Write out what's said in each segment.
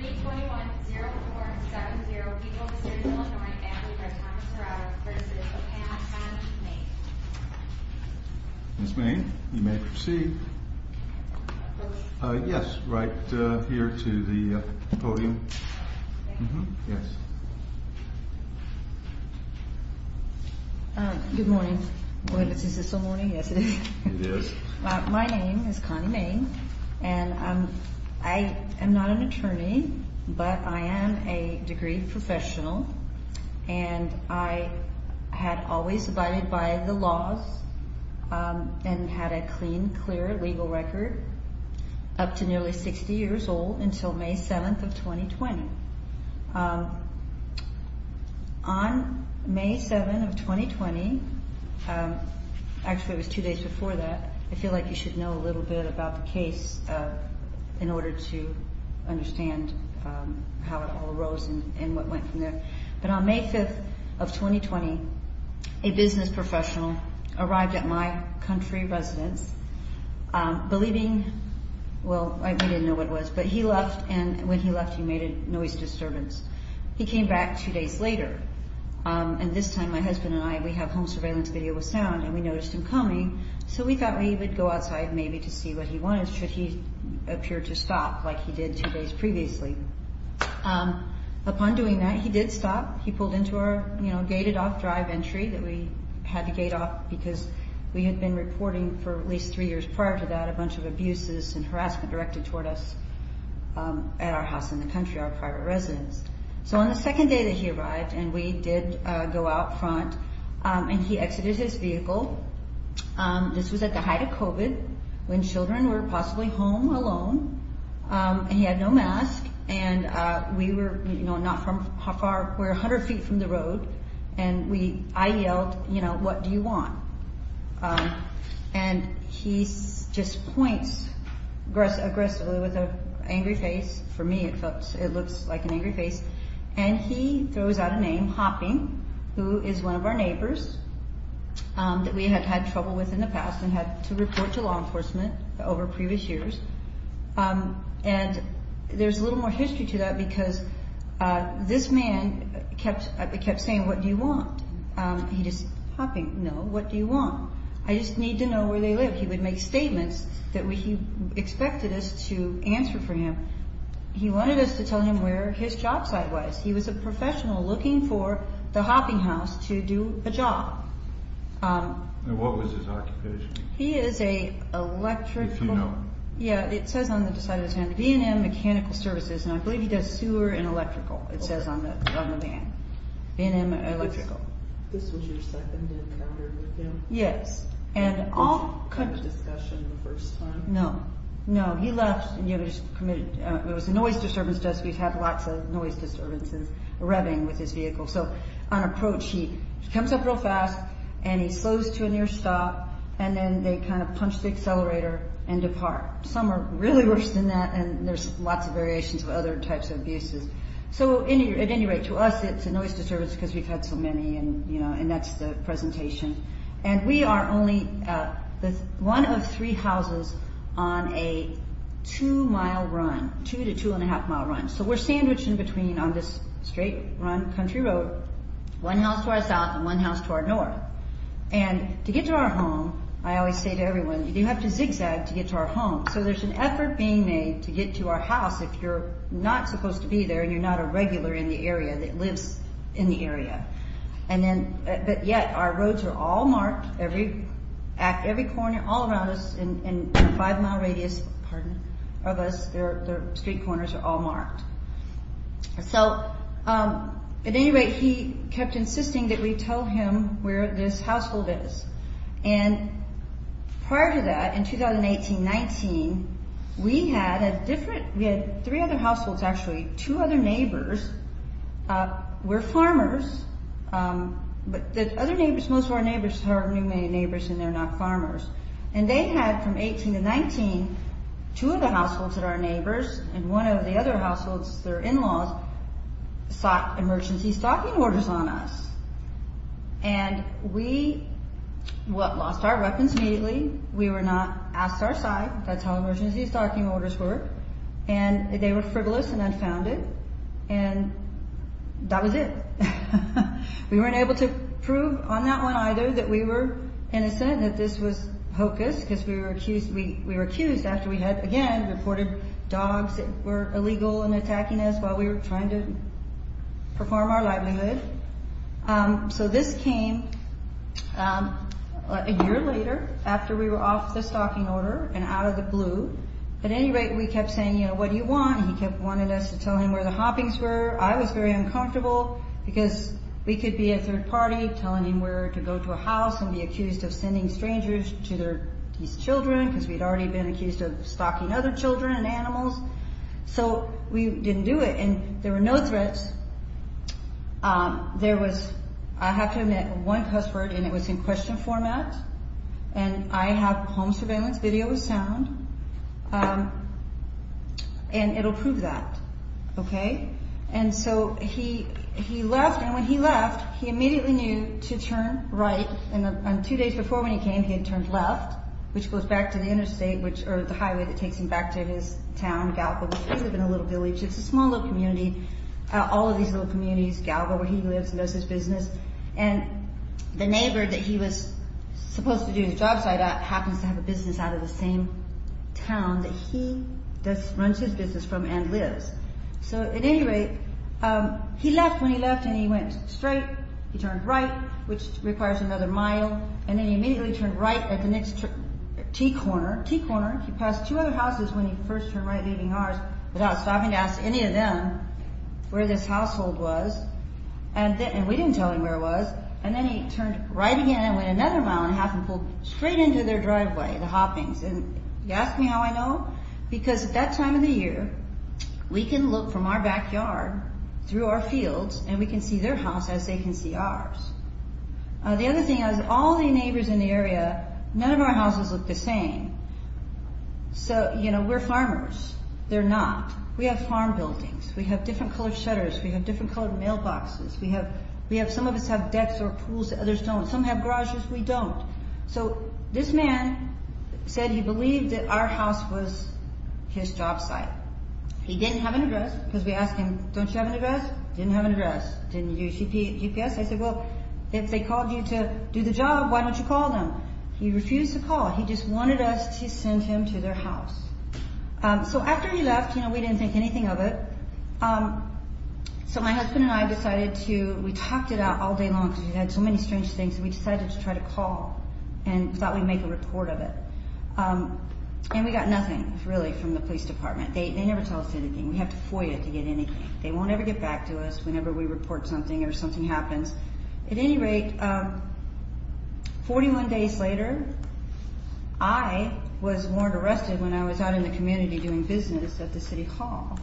321-0470, People of the City of Illinois, Ambulance Drive, Thomas Dorado, v. Pan, Pan, Main Ms. Main, you may proceed. Yes, right here to the podium. Good morning. Wait, is this still morning? Yes, it is. My name is Connie Main, and I am not an attorney, but I am a degree professional. And I had always abided by the laws and had a clean, clear legal record up to nearly 60 years old until May 7th of 2020. On May 7th of 2020, actually it was two days before that, I feel like you should know a little bit about the case in order to understand how it all arose and what went from there. But on May 5th of 2020, a business professional arrived at my country residence, believing, well, we didn't know what it was, but he left, and when he left he made a noise disturbance. He came back two days later, and this time my husband and I, we have home surveillance video with sound, and we noticed him coming, so we thought we would go outside maybe to see what he wanted, should he appear to stop like he did two days previously. Upon doing that, he did stop. He pulled into our, you know, gated off drive entry that we had to gate off because we had been reporting for at least three years prior to that a bunch of abuses and harassment directed toward us at our house in the country, our private residence. So on the second day that he arrived, and we did go out front, and he exited his vehicle. This was at the height of COVID when children were possibly home alone, and he had no mask, and we were, you know, not from how far, we're 100 feet from the road, and we, I yelled, you know, what do you want? And he just points aggressively with an angry face. For me, it looks like an angry face, and he throws out a name, Hopping, who is one of our neighbors that we have had trouble with in the past and had to report to law enforcement over previous years, and there's a little more history to that because this man kept saying, what do you want? He just, Hopping, no, what do you want? I just need to know where they live. He would make statements that he expected us to answer for him. He wanted us to tell him where his job site was. He was a professional looking for the Hopping house to do a job. And what was his occupation? He is a electrical. Yeah, it says on the side of his hand, V&M Mechanical Services, and I believe he does sewer and electrical, it says on the van. V&M Electrical. This was your second encounter with him? Yes. And all kinds of discussion the first time? No, no. He left, and it was a noise disturbance desk. We've had lots of noise disturbances, revving with his vehicle. So on approach, he comes up real fast, and he slows to a near stop, and then they kind of punch the accelerator and depart. Some are really worse than that, and there's lots of variations of other types of abuses. So at any rate, to us, it's a noise disturbance because we've had so many, and that's the presentation. And we are only one of three houses on a two mile run, two to two and a half mile run. So we're sandwiched in between on this straight run country road, one house to our south and one house to our north. And to get to our home, I always say to everyone, you have to zigzag to get to our home. So there's an effort being made to get to our house if you're not supposed to be there, and you're not a regular in the area that lives in the area. But yet, our roads are all marked, every corner, all around us, in a five mile radius of us, the street corners are all marked. So at any rate, he kept insisting that we tell him where this household is. And prior to that, in 2018-19, we had a different, we had three other households actually, two other neighbors were farmers, but the other neighbors, most of our neighbors are new neighbors and they're not farmers. And they had, from 18-19, two of the households that are neighbors and one of the other households, their in-laws, sought emergency stalking orders on us. And we lost our weapons immediately, we were not asked our side, that's how emergency stalking orders work, and they were frivolous and unfounded, and that was it. We weren't able to prove on that one either that we were innocent, that this was hocus, because we were accused after we had, again, reported dogs that were illegal and attacking us while we were trying to perform our livelihood. So this came a year later, after we were off the stalking order and out of the blue. At any rate, we kept saying, you know, what do you want? And he kept wanting us to tell him where the hoppings were. I was very uncomfortable because we could be a third party telling him where to go to a house and be accused of sending strangers to these children because we'd already been accused of stalking other children and animals. So we didn't do it, and there were no threats. There was, I have to admit, one password, and it was in question format, and I have home surveillance video with sound, and it'll prove that. And so he left, and when he left, he immediately knew to turn right, and two days before when he came, he had turned left, which goes back to the interstate, or the highway that takes him back to his town, Gallagher, because he lived in a little village. It's a small little community, all of these little communities, Gallagher, where he lives and does his business. And the neighbor that he was supposed to do his job site at happens to have a business out of the same town that he runs his business from and lives. So at any rate, he left, when he left, and he went straight, he turned right, which requires another mile, and then he immediately turned right at the next T corner, T corner, he passed two other houses when he first turned right leaving ours without stopping to ask any of them where this household was, and we didn't tell him where it was, and then he turned right again and went another mile and a half and pulled straight into their driveway, the hoppings. And you ask me how I know? Because at that time of the year, we can look from our backyard through our fields, and we can see their house as they can see ours. The other thing is, all the neighbors in the area, none of our houses look the same. So, you know, we're farmers. They're not. We have farm buildings. We have different colored shutters. We have different colored mailboxes. We have some of us have decks or pools that others don't. Some have garages. We don't. So this man said he believed that our house was his job site. He didn't have an address because we asked him, don't you have an address? Didn't have an address. Didn't you do your GPS? I said, well, if they called you to do the job, why don't you call them? He refused to call. He just wanted us to send him to their house. So after he left, you know, we didn't think anything of it. So my husband and I decided to, we talked it out all day long because we had so many strange things, and we decided to try to call and thought we'd make a report of it. And we got nothing, really, from the police department. They never tell us anything. We have to FOIA to get anything. They won't ever get back to us whenever we report something or something happens. At any rate, 41 days later, I was warrant arrested when I was out in the community doing business at the city hall,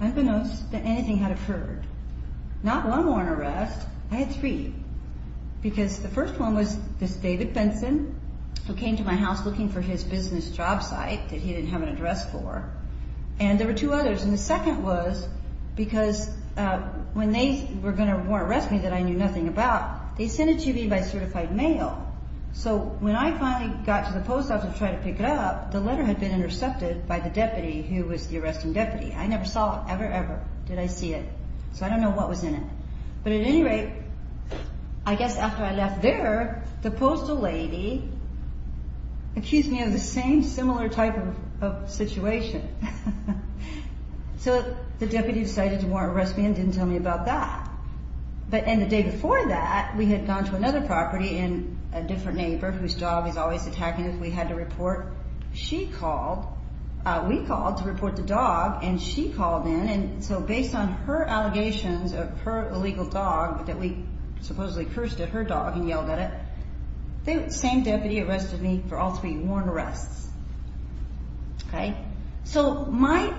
unbeknownst that anything had occurred. Not one warrant arrest. I had three. Because the first one was this David Benson who came to my house looking for his business job site that he didn't have an address for. And there were two others. And the second was because when they were going to warrant arrest me that I knew nothing about, they sent it to me by certified mail. So when I finally got to the post office to try to pick it up, the letter had been intercepted by the deputy who was the arresting deputy. I never saw it ever, ever. Did I see it? So I don't know what was in it. But at any rate, I guess after I left there, the postal lady accused me of the same similar type of situation. So the deputy decided to warrant arrest me and didn't tell me about that. But in the day before that, we had gone to another property and a different neighbor whose dog was always attacking us. We had to report. She called. We called to report the dog and she called in. And so based on her allegations of her illegal dog that we supposedly cursed at her dog and yelled at it, the same deputy arrested me for all three warrant arrests. So my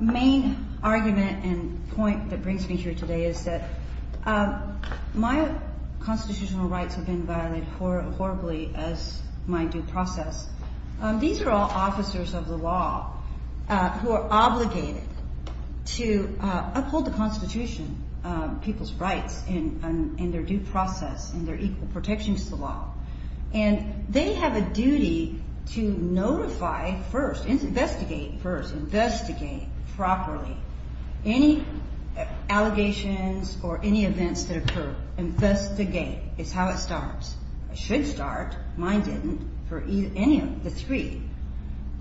main argument and point that brings me here today is that my constitutional rights have been violated horribly as my due process. These are all officers of the law who are obligated to uphold the Constitution, people's rights and their due process and their equal protections to the law. And they have a duty to notify first, investigate first, investigate properly any allegations or any events that occur. Investigate is how it starts. It should start. Mine didn't for any of the three.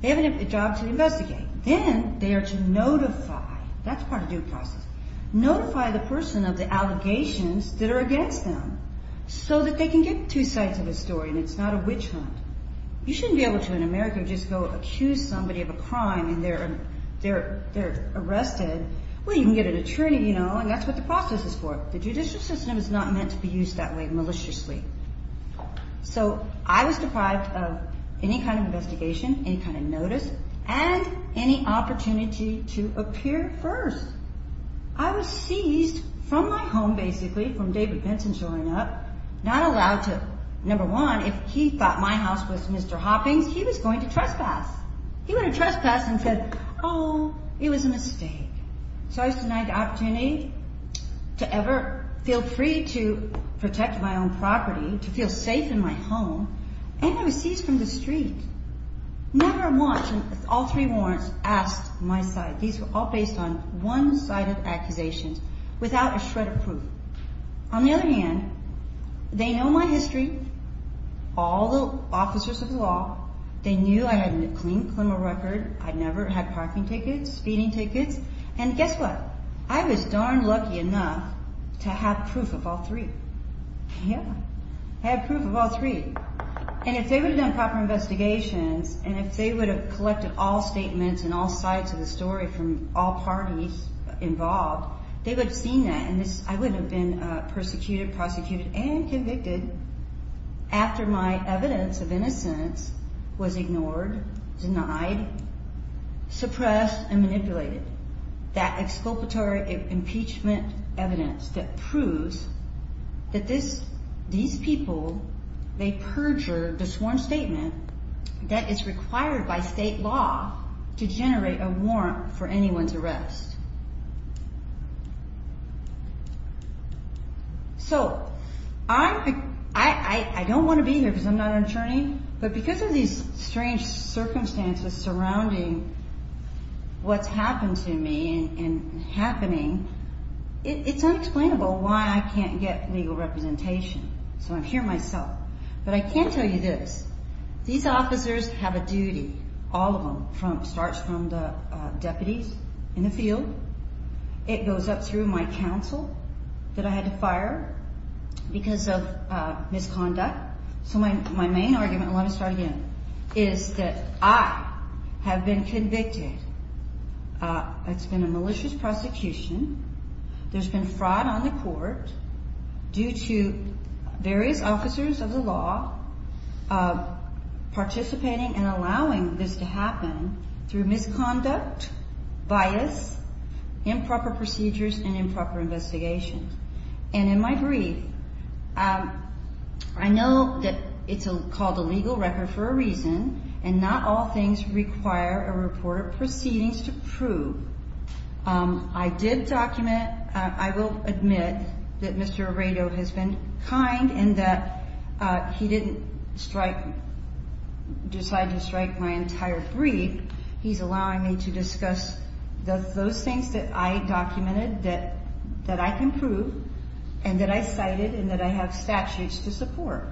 They have a job to investigate. Then they are to notify. That's part of due process. Notify the person of the allegations that are against them so that they can get two sides of the story and it's not a witch hunt. You shouldn't be able to in America just go accuse somebody of a crime and they're arrested. Well, you can get an attorney, you know, and that's what the process is for. The judicial system is not meant to be used that way maliciously. So I was deprived of any kind of investigation, any kind of notice and any opportunity to appear first. I was seized from my home basically from David Benson showing up, not allowed to. Number one, if he thought my house was Mr. Hoppings, he was going to trespass. He would have trespassed and said, oh, it was a mistake. So I was denied the opportunity to ever feel free to protect my own property, to feel safe in my home, and I was seized from the street. Never once, with all three warrants, asked my side. These were all based on one side of accusations without a shred of proof. On the other hand, they know my history, all the officers of the law. They knew I had a clean criminal record. I never had parking tickets, speeding tickets, and guess what? I was darn lucky enough to have proof of all three. Yeah, I had proof of all three. And if they would have done proper investigations and if they would have collected all statements and all sides of the story from all parties involved, they would have seen that and I would have been persecuted, prosecuted, and convicted after my evidence of innocence was ignored, denied, suppressed, and manipulated. That exculpatory impeachment evidence that proves that these people, they perjured the sworn statement that is required by state law to generate a warrant for anyone's arrest. So I don't want to be here because I'm not an attorney, but because of these strange circumstances surrounding what's happened to me and happening, it's unexplainable why I can't get legal representation. So I'm here myself. But I can tell you this. These officers have a duty, all of them, starts from the deputies in the field. It goes up through my counsel that I had to fire because of misconduct. So my main argument, and let me start again, is that I have been convicted. It's been a malicious prosecution. There's been fraud on the court due to various officers of the law participating and allowing this to happen through misconduct, bias, improper procedures, and improper investigations. And in my brief, I know that it's called a legal record for a reason and not all things require a report of proceedings to prove. I did document, I will admit, that Mr. Arredo has been kind and that he didn't decide to strike my entire brief. He's allowing me to discuss those things that I documented that I can prove and that I cited and that I have statutes to support.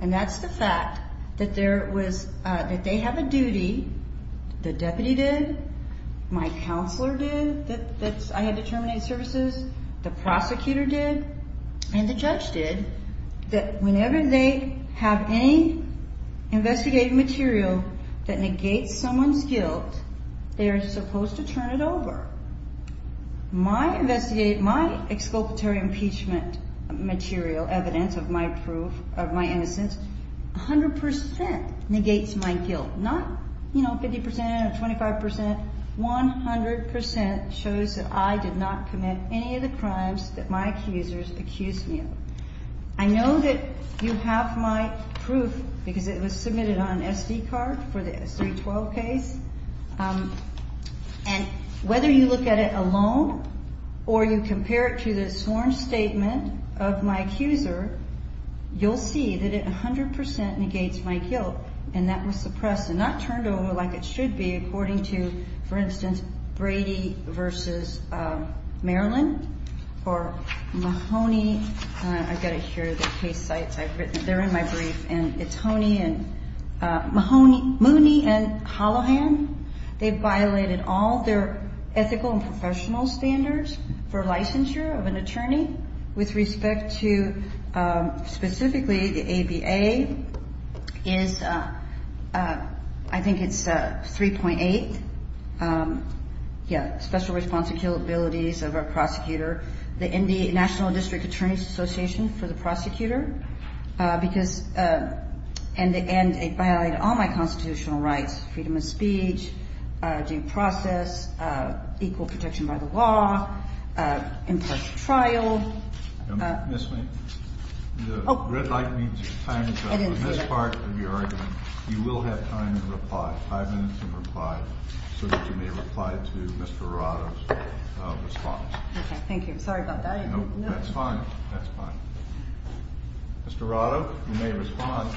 And that's the fact that they have a duty, the deputy did, my counselor did, that I had to terminate services, the prosecutor did, and the judge did, that whenever they have any investigative material that negates someone's guilt, they are supposed to turn it over. My investigative, my exculpatory impeachment material, evidence of my innocence, 100% negates my guilt. Not, you know, 50% or 25%, 100% shows that I did not commit any of the crimes that my accusers accused me of. I know that you have my proof because it was submitted on an SD card for the S312 case. And whether you look at it alone or you compare it to the sworn statement of my accuser, you'll see that it 100% negates my guilt and that was suppressed and not turned over like it should be according to, for instance, Brady v. Maryland or Mahoney. I've got it here, the case sites. They're in my brief and it's Mahoney and Hallahan. They violated all their ethical and professional standards for licensure of an attorney with respect to specifically the ABA is, I think it's 3.8. Yeah, special responsibility of our prosecutor, the National District Attorney's Association for the prosecutor because, and they violated all my constitutional rights, freedom of speech, due process, equal protection by the law, impartial trial. Miss me? The red light means your time is up. In this part of your argument, you will have time to reply. Five minutes to reply so that you may reply to Mr. Arado's response. Okay, thank you. Sorry about that. No, that's fine. That's fine. Mr. Arado, you may respond.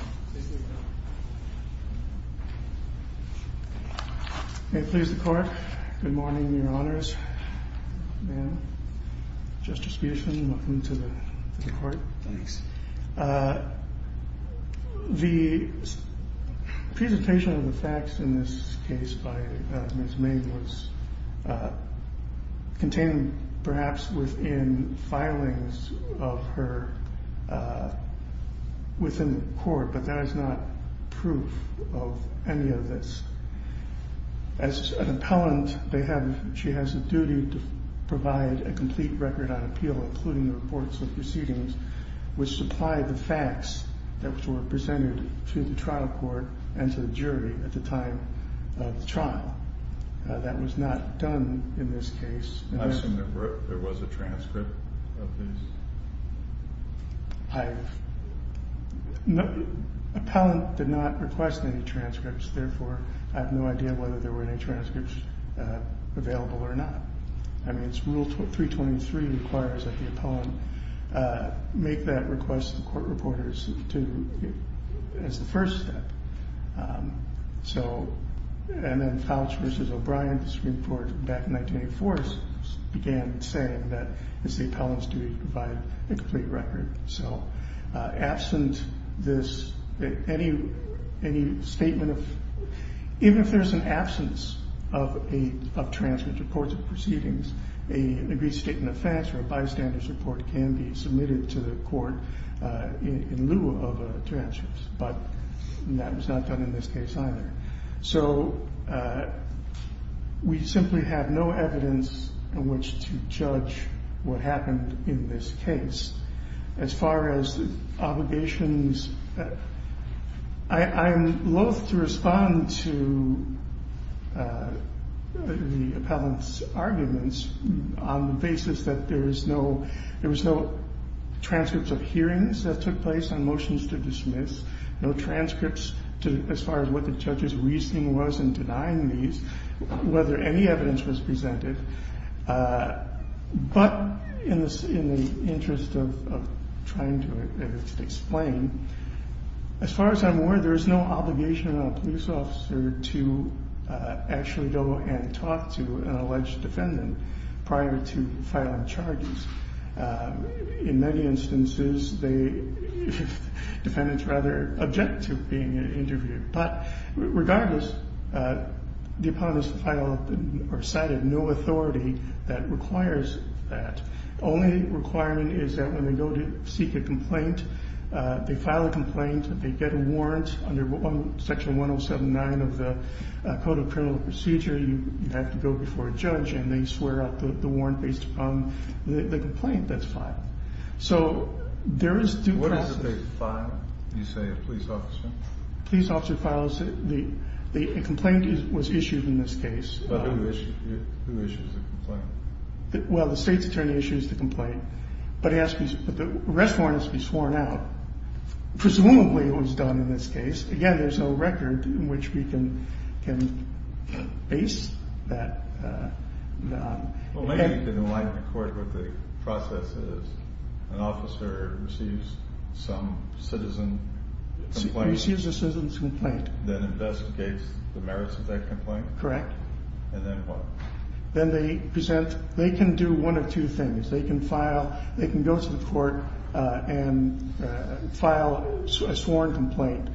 Please report. Good morning, your honors. Just distribution. Welcome to the court. The presentation of the facts in this case by his name was contained, perhaps within filings of her within court, but that is not proof of any of this. As an appellant, they have, she has a duty to provide a complete record on appeal, including the reports of proceedings, which supply the facts that were presented to the trial court and to the jury at the time of the trial. That was not done in this case. I assume there was a transcript of these? I've, no, appellant did not request any transcripts. Therefore, I have no idea whether there were any transcripts available or not. I mean, it's rule 323 requires that the appellant make that request to the court reporters to, as the first step. So, and then Fouch v. O'Brien, the Supreme Court, back in 1984, began saying that it's the appellant's duty to provide a complete record. So absent this, any, any statement of, even if there's an absence of a, of transcript reports of proceedings, a statement of facts or a bystander's report can be submitted to the court in lieu of a transcript. But that was not done in this case either. So we simply have no evidence in which to judge what happened in this case. As far as obligations, I am loath to respond to the appellant's arguments on the basis that there is no, there was no transcripts of hearings that took place on motions to dismiss. No transcripts to, as far as what the judge's reasoning was in denying these, whether any evidence was presented. But in the, in the interest of trying to explain, as far as I'm aware, there is no obligation on a police officer to actually go and talk to an alleged defendant prior to filing charges. In many instances, they, defendants rather object to being interviewed. But regardless, the appellant is filed, or cited, no authority that requires that. The only requirement is that when they go to seek a complaint, they file a complaint, they get a warrant under Section 107.9 of the Code of Criminal Procedure. You have to go before a judge and they swear out the warrant based upon the complaint that's filed. So there is due process. What is it they file, you say, a police officer? Police officer files the, a complaint was issued in this case. Who issues the complaint? Well, the state's attorney issues the complaint. But he asks, but the arrest warrant has to be sworn out. Presumably it was done in this case. Again, there's no record in which we can, can base that. Well, maybe you can enlighten the court what the process is. An officer receives some citizen complaint. Receives a citizen's complaint. Then investigates the merits of that complaint. Correct. And then what? Then they present, they can do one of two things. They can file, they can go to the court and file a sworn complaint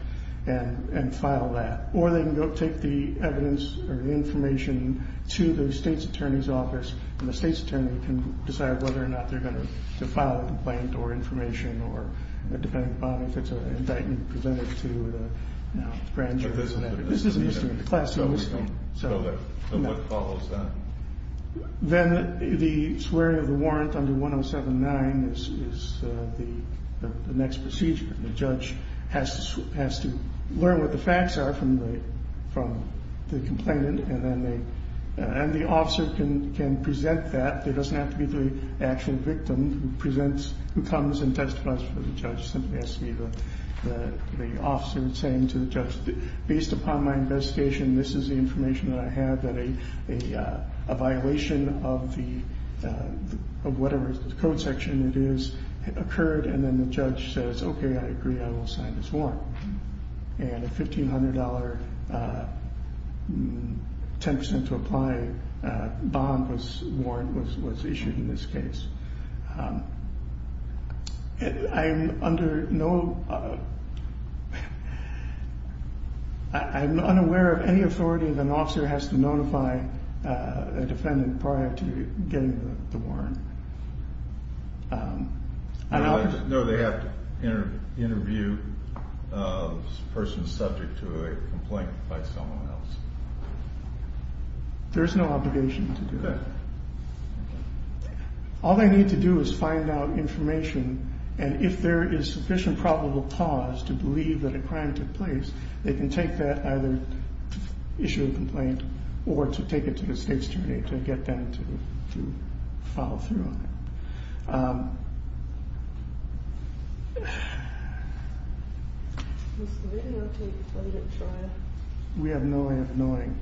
and file that. Or they can go take the evidence or the information to the state's attorney's office, and the state's attorney can decide whether or not they're going to file a complaint or information or depending upon if it's an indictment presented to the grand jury. So what follows then? Then the swearing of the warrant under 107-9 is the next procedure. The judge has to learn what the facts are from the complainant, and then the officer can present that. It doesn't have to be the actual victim who presents, who comes and testifies for the judge. The judge simply has to be the officer saying to the judge, based upon my investigation, this is the information that I have, that a violation of whatever code section it is occurred, and then the judge says, okay, I agree, I will sign this warrant. And a $1,500, 10% to apply bond warrant was issued in this case. I'm under no, I'm unaware of any authority that an officer has to notify a defendant prior to getting the warrant. No, they have to interview a person subject to a complaint by someone else. There's no obligation to do that. All they need to do is find out information, and if there is sufficient probable cause to believe that a crime took place, they can take that either to issue a complaint or to take it to the state's jury to get them to follow through on it. We have no way of knowing.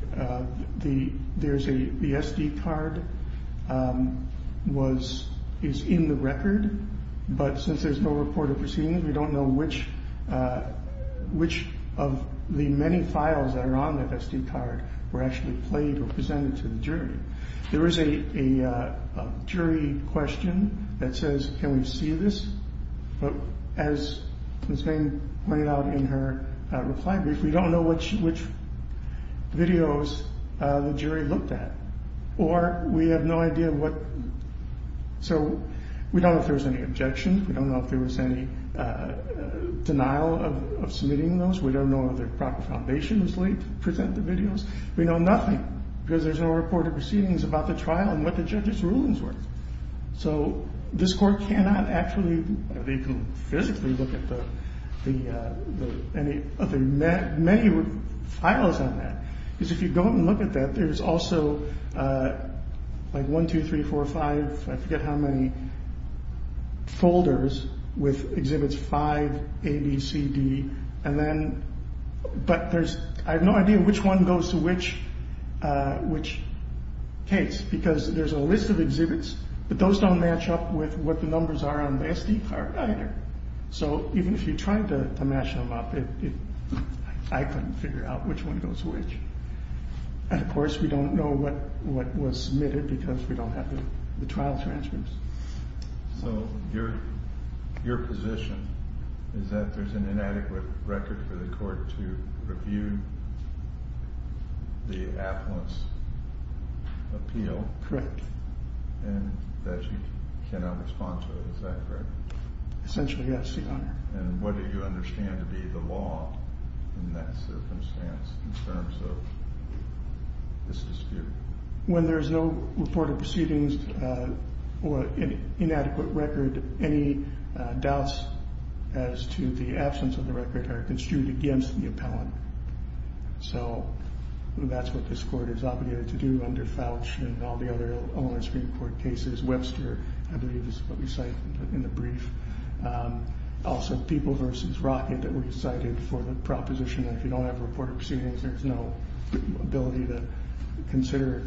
The SD card is in the record, but since there's no report of proceedings, we don't know which of the many files that are on that SD card were actually played or presented to the jury. There is a jury question that says, can we see this? But as Ms. Payne pointed out in her reply brief, we don't know which videos the jury looked at, or we have no idea what, so we don't know if there was any objection. We don't know if there was any denial of submitting those. We don't know whether the proper foundation was laid to present the videos. We know nothing because there's no report of proceedings about the trial and what the judge's rulings were. This court cannot actually physically look at the many files on that. If you go and look at that, there's also 1, 2, 3, 4, 5, I forget how many folders with exhibits 5, A, B, C, D. But I have no idea which one goes to which case because there's a list of exhibits, but those don't match up with what the numbers are on the SD card either. So even if you tried to match them up, I couldn't figure out which one goes to which. And of course, we don't know what was submitted because we don't have the trial transcripts. So your position is that there's an inadequate record for the court to review the affluence appeal? Correct. And that you cannot respond to it, is that correct? Essentially, yes, Your Honor. And what do you understand to be the law in that circumstance in terms of this dispute? When there's no report of proceedings or inadequate record, any doubts as to the absence of the record are construed against the appellant. So that's what this court is obligated to do under Fouch and all the other Long Island Supreme Court cases. Webster, I believe, is what we cite in the brief. Also, People v. Rocket that we cited for the proposition that if you don't have a report of proceedings, there's no ability to consider.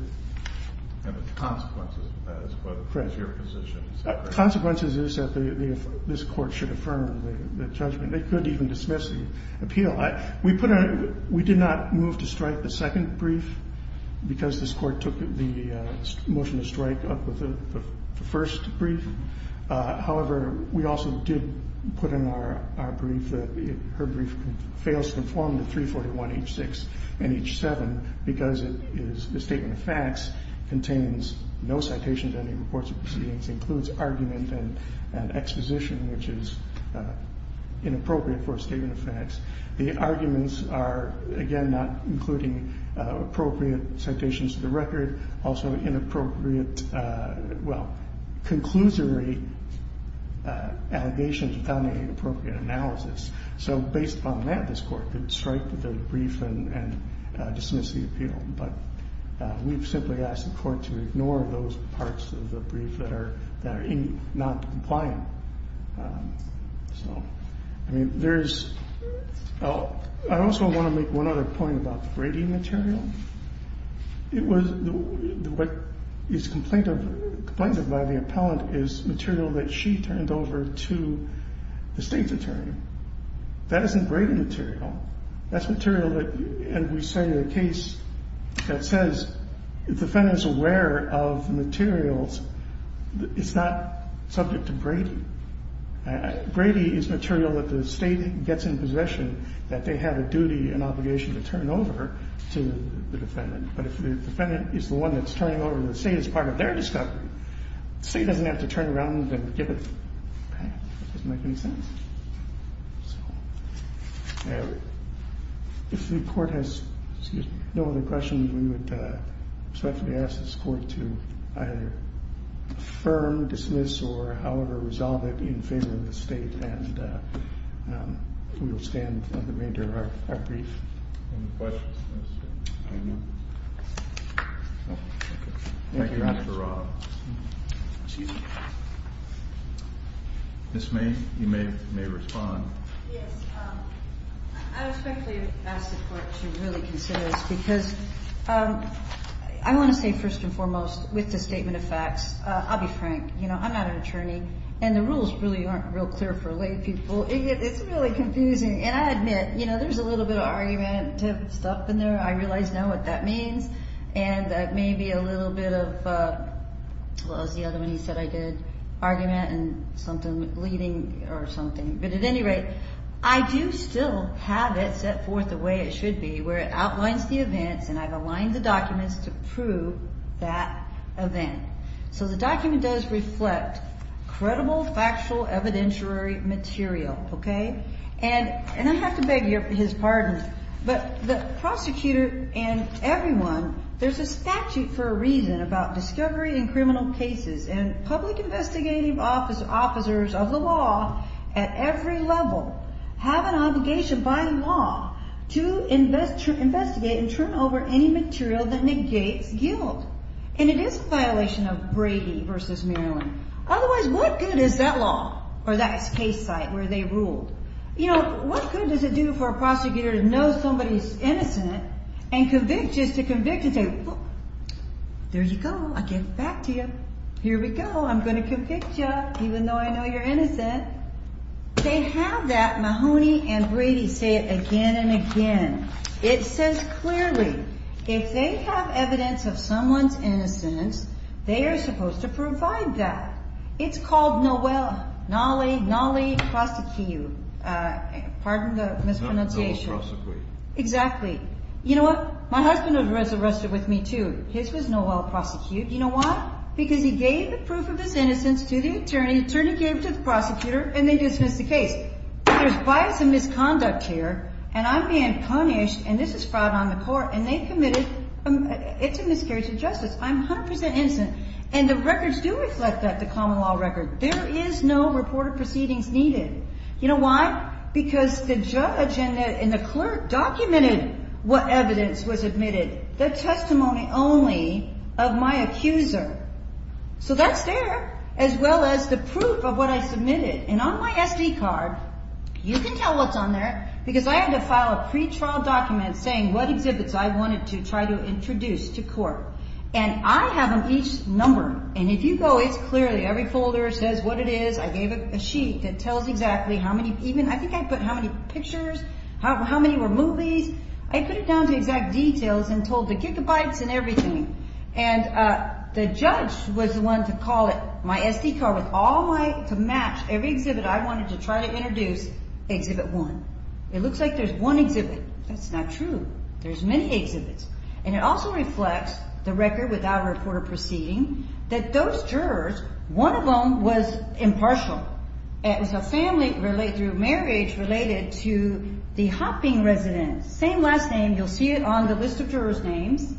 And the consequences of that as well as your position. The consequences is that this court should affirm the judgment. They could even dismiss the appeal. We did not move to strike the second brief because this court took the motion to strike up with the first brief. However, we also did put in our brief that her brief fails to conform to 341H6 and H7 because the statement of facts contains no citations of any reports of proceedings, includes argument and exposition, which is inappropriate for a statement of facts. The arguments are, again, not including appropriate citations of the record, also inappropriate, well, conclusory allegations without any appropriate analysis. So based upon that, this court could strike the brief and dismiss the appeal. But we've simply asked the court to ignore those parts of the brief that are not compliant. So, I mean, there's – I also want to make one other point about the Brady material. It was – what is complained of by the appellant is material that she turned over to the state's attorney. That isn't Brady material. That's material that – and we cited a case that says the defendant is aware of materials. It's not subject to Brady. Brady is material that the state gets in possession, that they have a duty and obligation to turn over to the defendant. But if the defendant is the one that's turning over to the state as part of their discovery, the state doesn't have to turn around and give it back. It doesn't make any sense. So if the court has no other questions, we would respectfully ask this court to either affirm, dismiss, or however resolve it in favor of the state, and we will stand for the remainder of our brief. Any questions? No. Thank you, Mr. Roth. Ms. May, you may respond. Yes. I respectfully ask the court to really consider this because I want to say, first and foremost, with the statement of facts, I'll be frank. You know, I'm not an attorney, and the rules really aren't real clear for lay people. It's really confusing, and I admit, you know, there's a little bit of argument stuff in there. I realize now what that means, and maybe a little bit of – what was the other one you said I did? Argument and something leading or something. But at any rate, I do still have it set forth the way it should be, where it outlines the events, and I've aligned the documents to prove that event. So the document does reflect credible, factual, evidentiary material, okay? And I have to beg his pardon, but the prosecutor and everyone, there's a statute for a reason about discovery in criminal cases, and public investigative officers of the law at every level have an obligation by law to investigate and turn over any material that negates guilt. And it is a violation of Brady v. Maryland. Otherwise, what good is that law or that case site where they ruled? You know, what good does it do for a prosecutor to know somebody's innocent and convict just to convict and say, well, there you go. I'll give it back to you. Here we go. I'm going to convict you even though I know you're innocent. They have that. Mahoney and Brady say it again and again. It says clearly, if they have evidence of someone's innocence, they are supposed to provide that. It's called no well, nolly, nolly prosecute. Pardon the mispronunciation. Exactly. You know what? My husband was arrested with me, too. His was no well prosecuted. You know why? Because he gave the proof of his innocence to the attorney. The attorney gave it to the prosecutor, and they dismissed the case. There's bias and misconduct here, and I'm being punished, and this is fraud on the court. And they committed – it's a miscarriage of justice. I'm 100 percent innocent. And the records do reflect that, the common law record. There is no reported proceedings needed. You know why? Because the judge and the clerk documented what evidence was admitted. The testimony only of my accuser. So that's there, as well as the proof of what I submitted. And on my SD card, you can tell what's on there. Because I had to file a pretrial document saying what exhibits I wanted to try to introduce to court. And I have them each numbered. And if you go, it's clearly – every folder says what it is. I gave a sheet that tells exactly how many – I think I put how many pictures, how many were movies. I put it down to exact details and told the gigabytes and everything. And the judge was the one to call it – my SD card with all my – to match every exhibit I wanted to try to introduce, exhibit one. It looks like there's one exhibit. That's not true. There's many exhibits. And it also reflects the record without a reported proceeding that those jurors, one of them was impartial. It was a family through marriage related to the Hopping residence. Same last name. You'll see it on the list of jurors' names.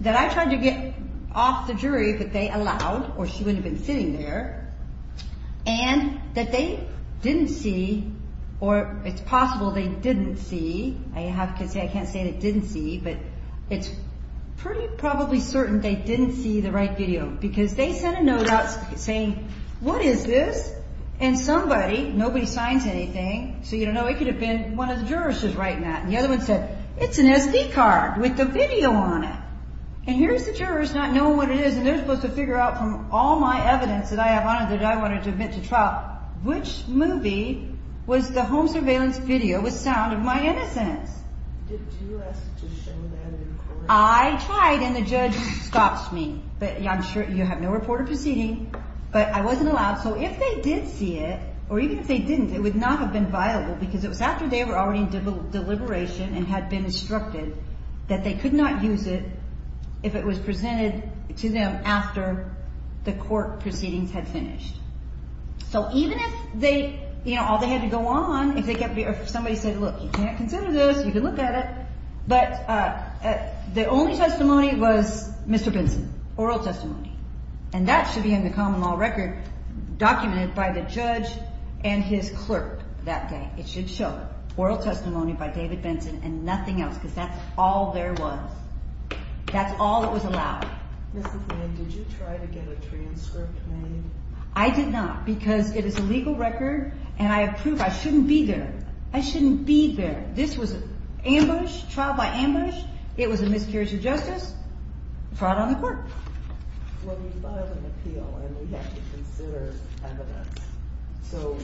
That I tried to get off the jury, but they allowed, or she wouldn't have been sitting there. And that they didn't see, or it's possible they didn't see. I have to say I can't say they didn't see, but it's pretty probably certain they didn't see the right video. Because they sent a note out saying, what is this? And somebody, nobody signs anything, so you don't know, it could have been one of the jurors just writing that. And the other one said, it's an SD card with the video on it. And here's the jurors not knowing what it is, and they're supposed to figure out from all my evidence that I have on it that I wanted to admit to trial, which movie was the home surveillance video with sound of my innocence. Did you ask to show that in court? I tried, and the judge stopped me. But I'm sure you have no reported proceeding. But I wasn't allowed, so if they did see it, or even if they didn't, it would not have been viable, because it was after they were already in deliberation and had been instructed that they could not use it if it was presented to them after the court proceedings had finished. So even if they, you know, all they had to go on, if somebody said, look, you can't consider this, you can look at it. But the only testimony was Mr. Benson, oral testimony. And that should be in the common law record documented by the judge and his clerk that day. It should show oral testimony by David Benson and nothing else, because that's all there was. That's all that was allowed. Mrs. Mann, did you try to get a transcript made? I did not, because it is a legal record, and I approve. I shouldn't be there. I shouldn't be there. This was an ambush, trial by ambush. It was a miscarriage of justice, fraud on the court. Well, you filed an appeal, and we have to consider evidence. So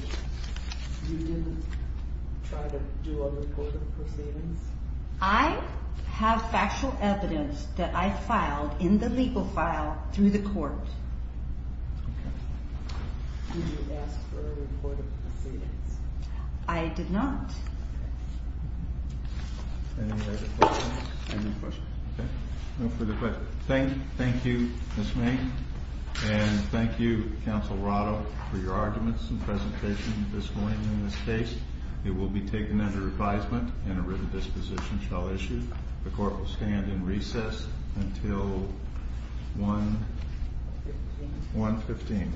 you didn't try to do a report of proceedings? I have factual evidence that I filed in the legal file through the court. Okay. Did you ask for a report of proceedings? I did not. Any other questions? No further questions. Thank you, Mrs. Mann, and thank you, Counsel Rado, for your arguments and presentation this morning in this case. It will be taken under advisement, and a written disposition shall issue. The court will stand in recess until 1.15.